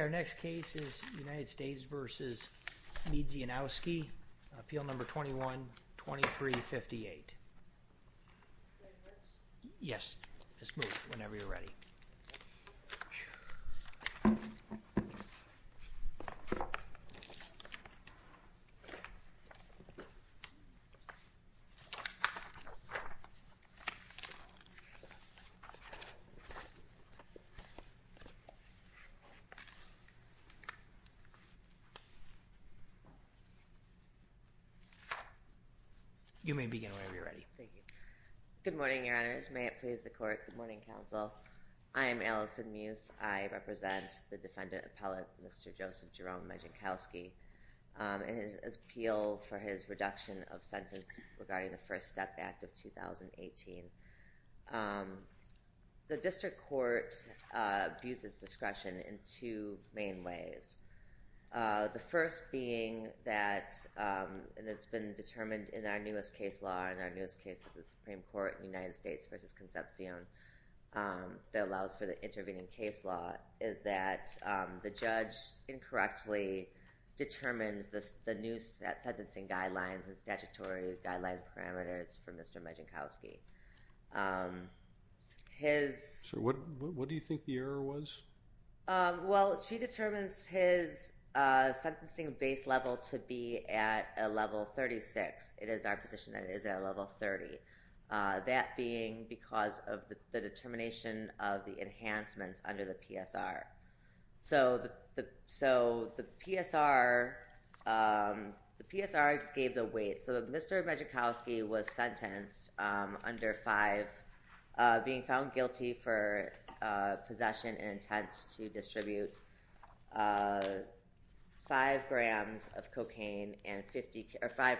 Our next case is United States v. Miedzianowski, Appeal No. 21-2358. Yes, just move whenever you're ready. You may begin whenever you're ready. Thank you. Good morning, Your Honors. May it please the Court. Good morning, Counsel. I am Allison Muth. I represent the defendant appellate, Mr. Joseph Jerome Miedzianowski, in his appeal for his reduction of sentence regarding the First Step Act of 2018. The district court views this discretion in two main ways. The first being that, and it's been determined in our newest case law, in our newest case of the Supreme Court, United States v. Concepcion, that allows for the intervening case law, is that the judge incorrectly determines the new sentencing guidelines and statutory guidelines parameters for Mr. Miedzianowski. What do you think the error was? Well, she determines his sentencing base level to be at a level 36. It is our position that it is at a level 30. That being because of the determination of the enhancements under the PSR. So the PSR gave the weight. So Mr. Miedzianowski was sentenced under 5, being found guilty for possession and intent to distribute 5 kilograms of cocaine and 50 kilograms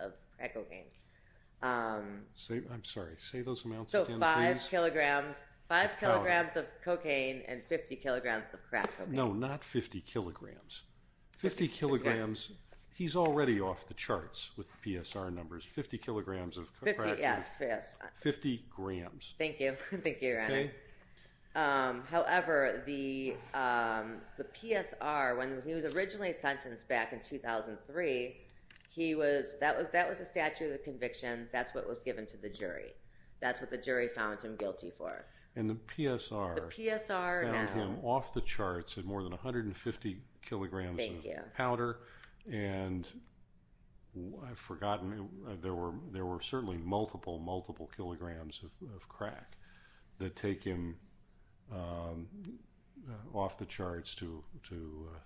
of crack cocaine. I'm sorry. Say those amounts again, please. So 5 kilograms of cocaine and 50 kilograms of crack cocaine. No, not 50 kilograms. 50 kilograms. He's already off the charts with the PSR numbers. 50 kilograms of crack cocaine. Yes. 50 grams. Thank you. Thank you, Your Honor. However, the PSR, when he was originally sentenced back in 2003, that was the statute of the conviction. That's what was given to the jury. That's what the jury found him guilty for. And the PSR found him off the charts at more than 150 kilograms of powder. Thank you. And I've forgotten. There were certainly multiple, multiple kilograms of crack that take him off the charts to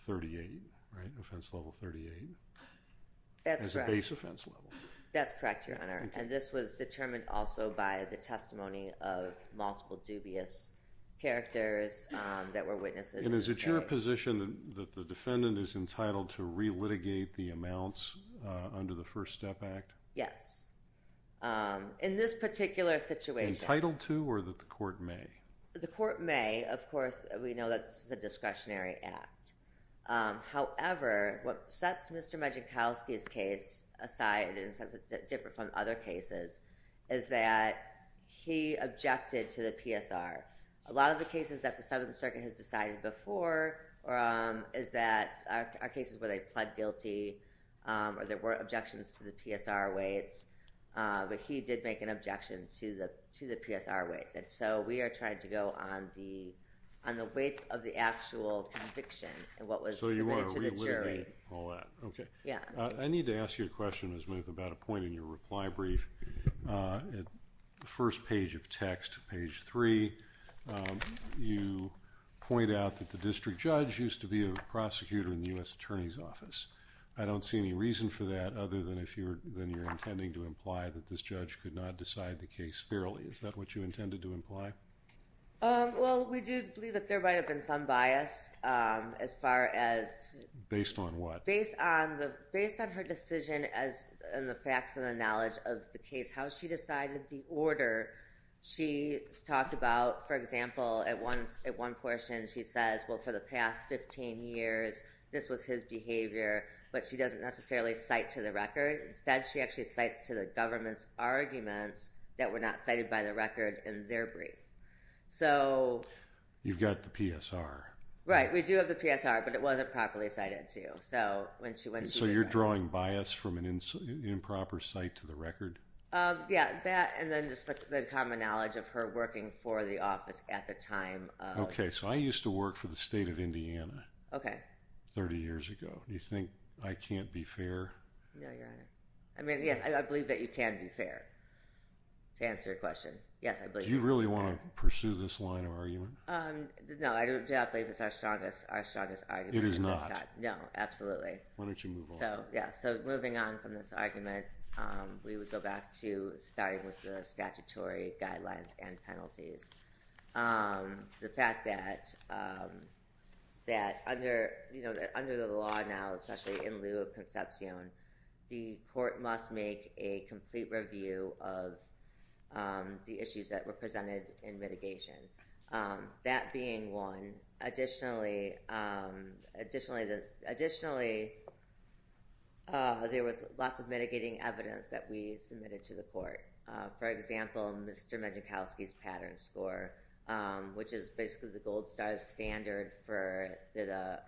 38, right? Offense level 38. That's correct. As a base offense level. That's correct, Your Honor. And this was determined also by the testimony of multiple dubious characters that were witnesses. And is it your position that the defendant is entitled to re-litigate the amounts under the First Step Act? Yes. In this particular situation. Entitled to or that the court may? The court may. Of course, we know that this is a discretionary act. However, what sets Mr. Majinkowski's case aside and sets it different from other cases is that he objected to the PSR. A lot of the cases that the Seventh Circuit has decided before is that are cases where they pled guilty or there were objections to the PSR weights. But he did make an objection to the PSR weights. And so we are trying to go on the weight of the actual conviction and what was submitted to the jury. So you want to re-litigate all that. Okay. Yes. I need to ask you a question, Ms. Muth, about a point in your reply brief. The first page of text, page three, you point out that the district judge used to be a prosecutor in the U.S. Attorney's Office. I don't see any reason for that other than if you're intending to imply that this judge could not decide the case fairly. Is that what you intended to imply? Well, we do believe that there might have been some bias as far as… Based on what? Based on her decision and the facts and the knowledge of the case, how she decided the order. She talked about, for example, at one portion she says, well, for the past 15 years, this was his behavior. But she doesn't necessarily cite to the record. Instead, she actually cites to the government's arguments that were not cited by the record in their brief. So… You've got the PSR. Right. We do have the PSR, but it wasn't properly cited, too. So when she went to the… So you're drawing bias from an improper cite to the record? Yeah. That and then just the common knowledge of her working for the office at the time. Okay. So I used to work for the state of Indiana 30 years ago. Do you think I can't be fair? No, Your Honor. I mean, yes, I believe that you can be fair to answer your question. Yes, I believe that. Do you really want to pursue this line of argument? No, I do not believe it's our strongest argument at this time. It is not? No, absolutely. Why don't you move on? So, yeah. So moving on from this argument, we would go back to starting with the statutory guidelines and penalties. The fact that under the law now, especially in lieu of concepcion, the court must make a complete review of the issues that were presented in mitigation. That being one, additionally, there was lots of mitigating evidence that we submitted to the court. For example, Mr. Majuchowski's pattern score, which is basically the gold star standard for the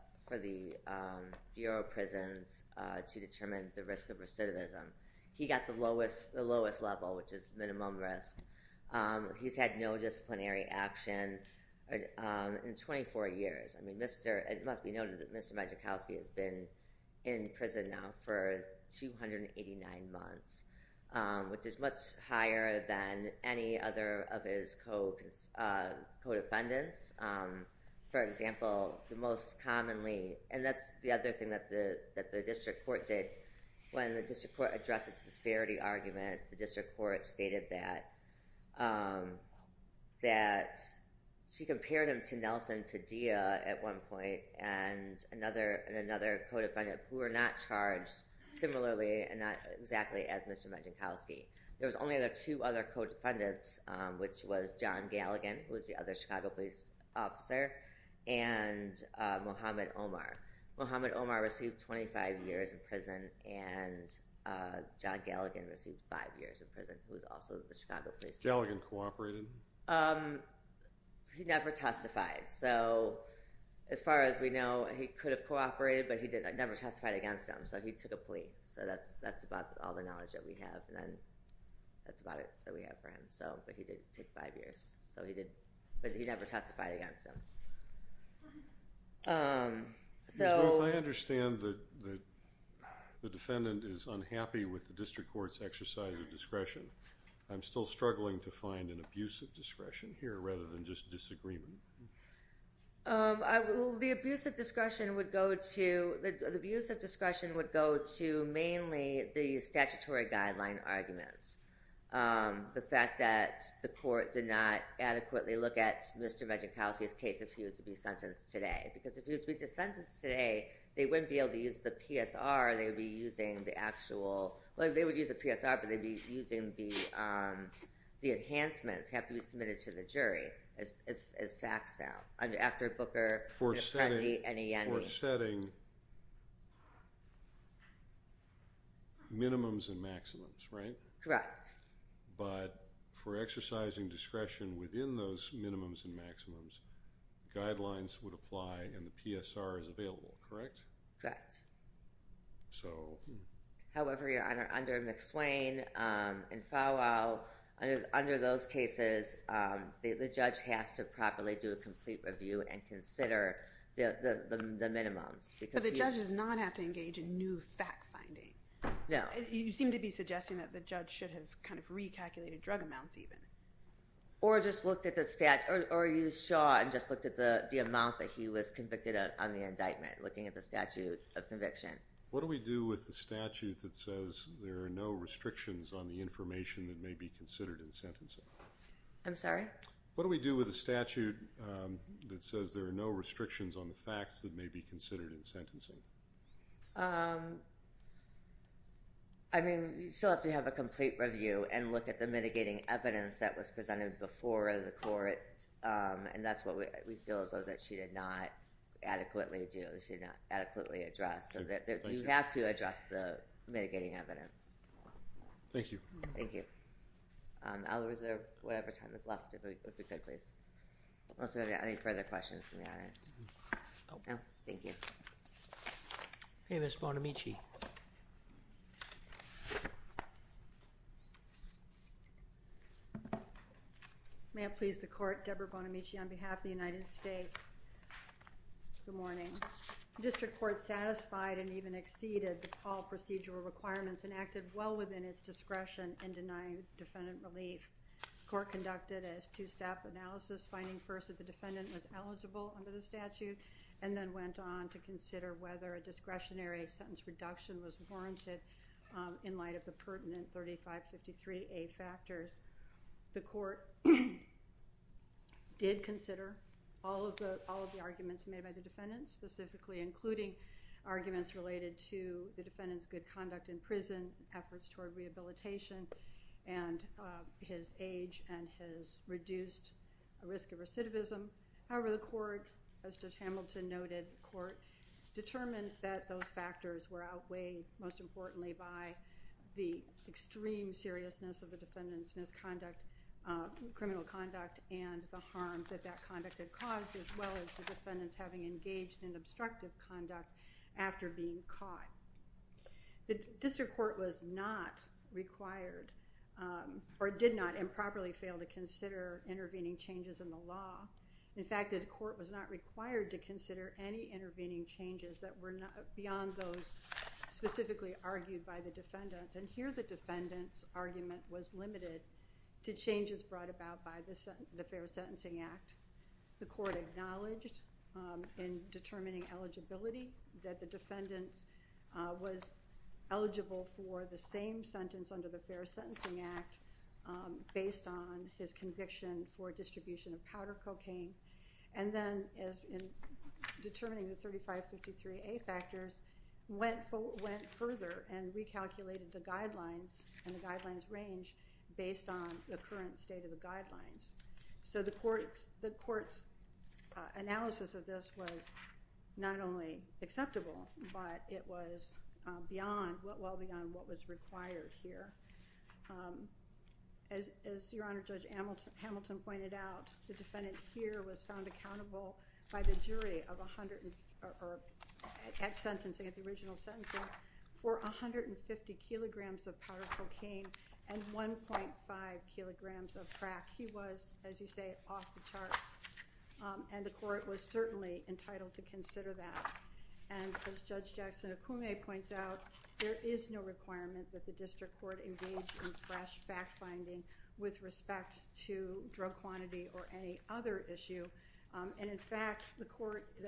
Bureau of Prisons to determine the risk of recidivism. He got the lowest level, which is minimum risk. He's had no disciplinary action in 24 years. It must be noted that Mr. Majuchowski has been in prison now for 289 months, which is much higher than any other of his co-defendants. For example, the most commonly—and that's the other thing that the district court did. When the district court addressed its disparity argument, the district court stated that she compared him to Nelson Padilla at one point and another co-defendant who were not charged similarly and not exactly as Mr. Majuchowski. There was only the two other co-defendants, which was John Galligan, who was the other Chicago police officer, and Mohamed Omar. Mohamed Omar received 25 years in prison, and John Galligan received five years in prison, who was also the Chicago police officer. Galligan cooperated? He never testified. So as far as we know, he could have cooperated, but he never testified against him, so he took a plea. So that's about all the knowledge that we have, and that's about it that we have for him. But he did take five years, but he never testified against him. If I understand that the defendant is unhappy with the district court's exercise of discretion, I'm still struggling to find an abuse of discretion here rather than just disagreement. The abuse of discretion would go to mainly the statutory guideline arguments. The fact that the court did not adequately look at Mr. Majuchowski's case if he was to be sentenced today. Because if he was to be sentenced today, they wouldn't be able to use the PSR. They would be using the actual – well, they would use the PSR, but they would be using the enhancements that have to be submitted to the jury as facts now. After Booker, Apprendi, and Ianni. For setting minimums and maximums, right? Correct. But for exercising discretion within those minimums and maximums, guidelines would apply and the PSR is available, correct? Correct. However, under McSwain and Fowell, under those cases, the judge has to properly do a complete review and consider the minimums. But the judge does not have to engage in new fact-finding. No. You seem to be suggesting that the judge should have kind of recalculated drug amounts even. Or just looked at the – or you saw and just looked at the amount that he was convicted of on the indictment, looking at the statute of conviction. What do we do with the statute that says there are no restrictions on the information that may be considered in sentencing? I'm sorry? What do we do with the statute that says there are no restrictions on the facts that may be considered in sentencing? I mean, you still have to have a complete review and look at the mitigating evidence that was presented before the court. And that's what we feel is that she did not adequately do. She did not adequately address. You have to address the mitigating evidence. Thank you. Thank you. I'll reserve whatever time is left, if we could, please. Unless there are any further questions from the audience. No? Thank you. Hey, Ms. Bonamici. May I please the court? Deborah Bonamici on behalf of the United States. Good morning. The district court satisfied and even exceeded all procedural requirements and acted well within its discretion in denying defendant relief. The court conducted a two-step analysis, finding first that the defendant was eligible under the statute, and then went on to consider whether a discretionary sentence reduction was warranted in light of the pertinent 3553A factors. The court did consider all of the arguments made by the defendant, specifically including arguments related to the defendant's good conduct in prison, efforts toward rehabilitation, and his age and his reduced risk of recidivism. However, the court, as Judge Hamilton noted, determined that those factors were outweighed, most importantly by the extreme seriousness of the defendant's misconduct, criminal conduct, and the harm that that conduct had caused, as well as the defendant's having engaged in obstructive conduct after being caught. The district court was not required or did not improperly fail to consider intervening changes in the law. In fact, the court was not required to consider any intervening changes that were beyond those specifically argued by the defendant. And here the defendant's argument was limited to changes brought about by the Fair Sentencing Act. The court acknowledged in determining eligibility that the defendant was eligible for the same sentence under the Fair Sentencing Act based on his conviction for distribution of powder cocaine, and then in determining the 3553A factors, went further and recalculated the guidelines and the guidelines range based on the current state of the guidelines. So the court's analysis of this was not only acceptable, but it was well beyond what was required here. As Your Honor, Judge Hamilton pointed out, the defendant here was found accountable by the jury at sentencing, at the original sentencing, for 150 kilograms of powder cocaine and 1.5 kilograms of crack. He was, as you say, off the charts, and the court was certainly entitled to consider that. And as Judge Jackson-Okume points out, there is no requirement that the district court engage in fresh fact-finding with respect to drug quantity or any other issue. And in fact, the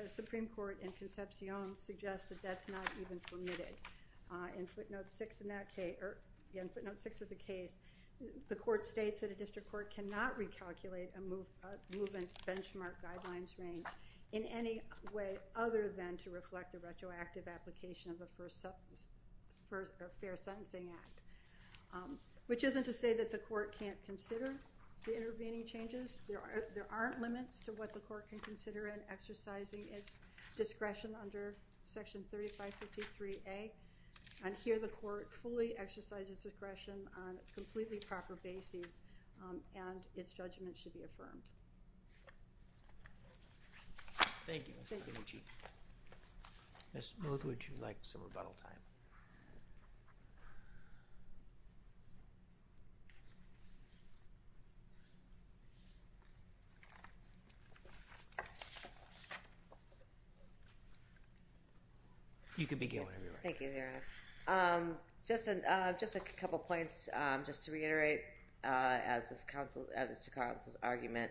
Supreme Court in Concepcion suggests that that's not even permitted. In footnote 6 of the case, the court states that a district court cannot recalculate a movement's benchmark guidelines range in any way other than to reflect the retroactive application of the Fair Sentencing Act, which isn't to say that the court can't consider the intervening changes. There aren't limits to what the court can consider in exercising its discretion under Section 3553A. And here the court fully exercised its discretion on a completely proper basis, and its judgment should be affirmed. Thank you, Ms. Okumichi. Ms. Muthu, would you like some rebuttal time? You can begin. Thank you, Your Honor. Just a couple points, just to reiterate, as to counsel's argument,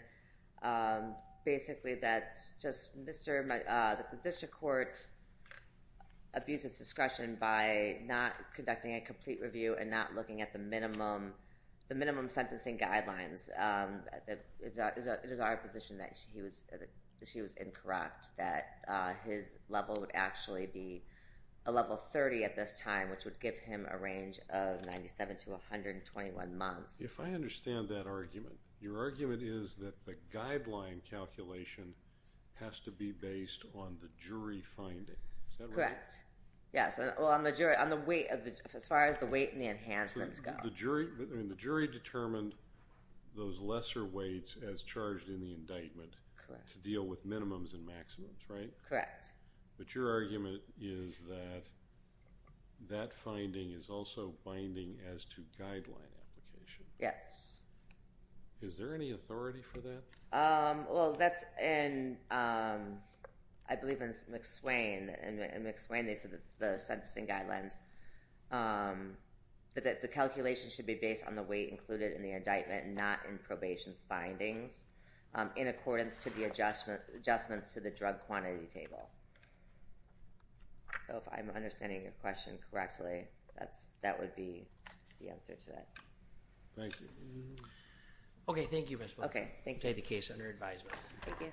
basically that the district court abuses discretion by not conducting a complete review and not looking at the minimum sentencing guidelines, it is our position that she was incorrect, that his level would actually be a level 30 at this time, which would give him a range of 97 to 121 months. If I understand that argument, your argument is that the guideline calculation has to be based on the jury finding. Correct. Yes, as far as the weight and the enhancements go. The jury determined those lesser weights as charged in the indictment to deal with minimums and maximums, right? Correct. But your argument is that that finding is also binding as to guideline application. Yes. Is there any authority for that? Well, that's in, I believe in McSwain. In McSwain, they said it's the sentencing guidelines, that the calculation should be based on the weight included in the indictment and not in probation's findings in accordance to the adjustments to the drug quantity table. So if I'm understanding your question correctly, that would be the answer to that. Thank you. Okay, thank you, Ms. Wilson. Okay, thank you. I'll take the case under advisement. Thank you.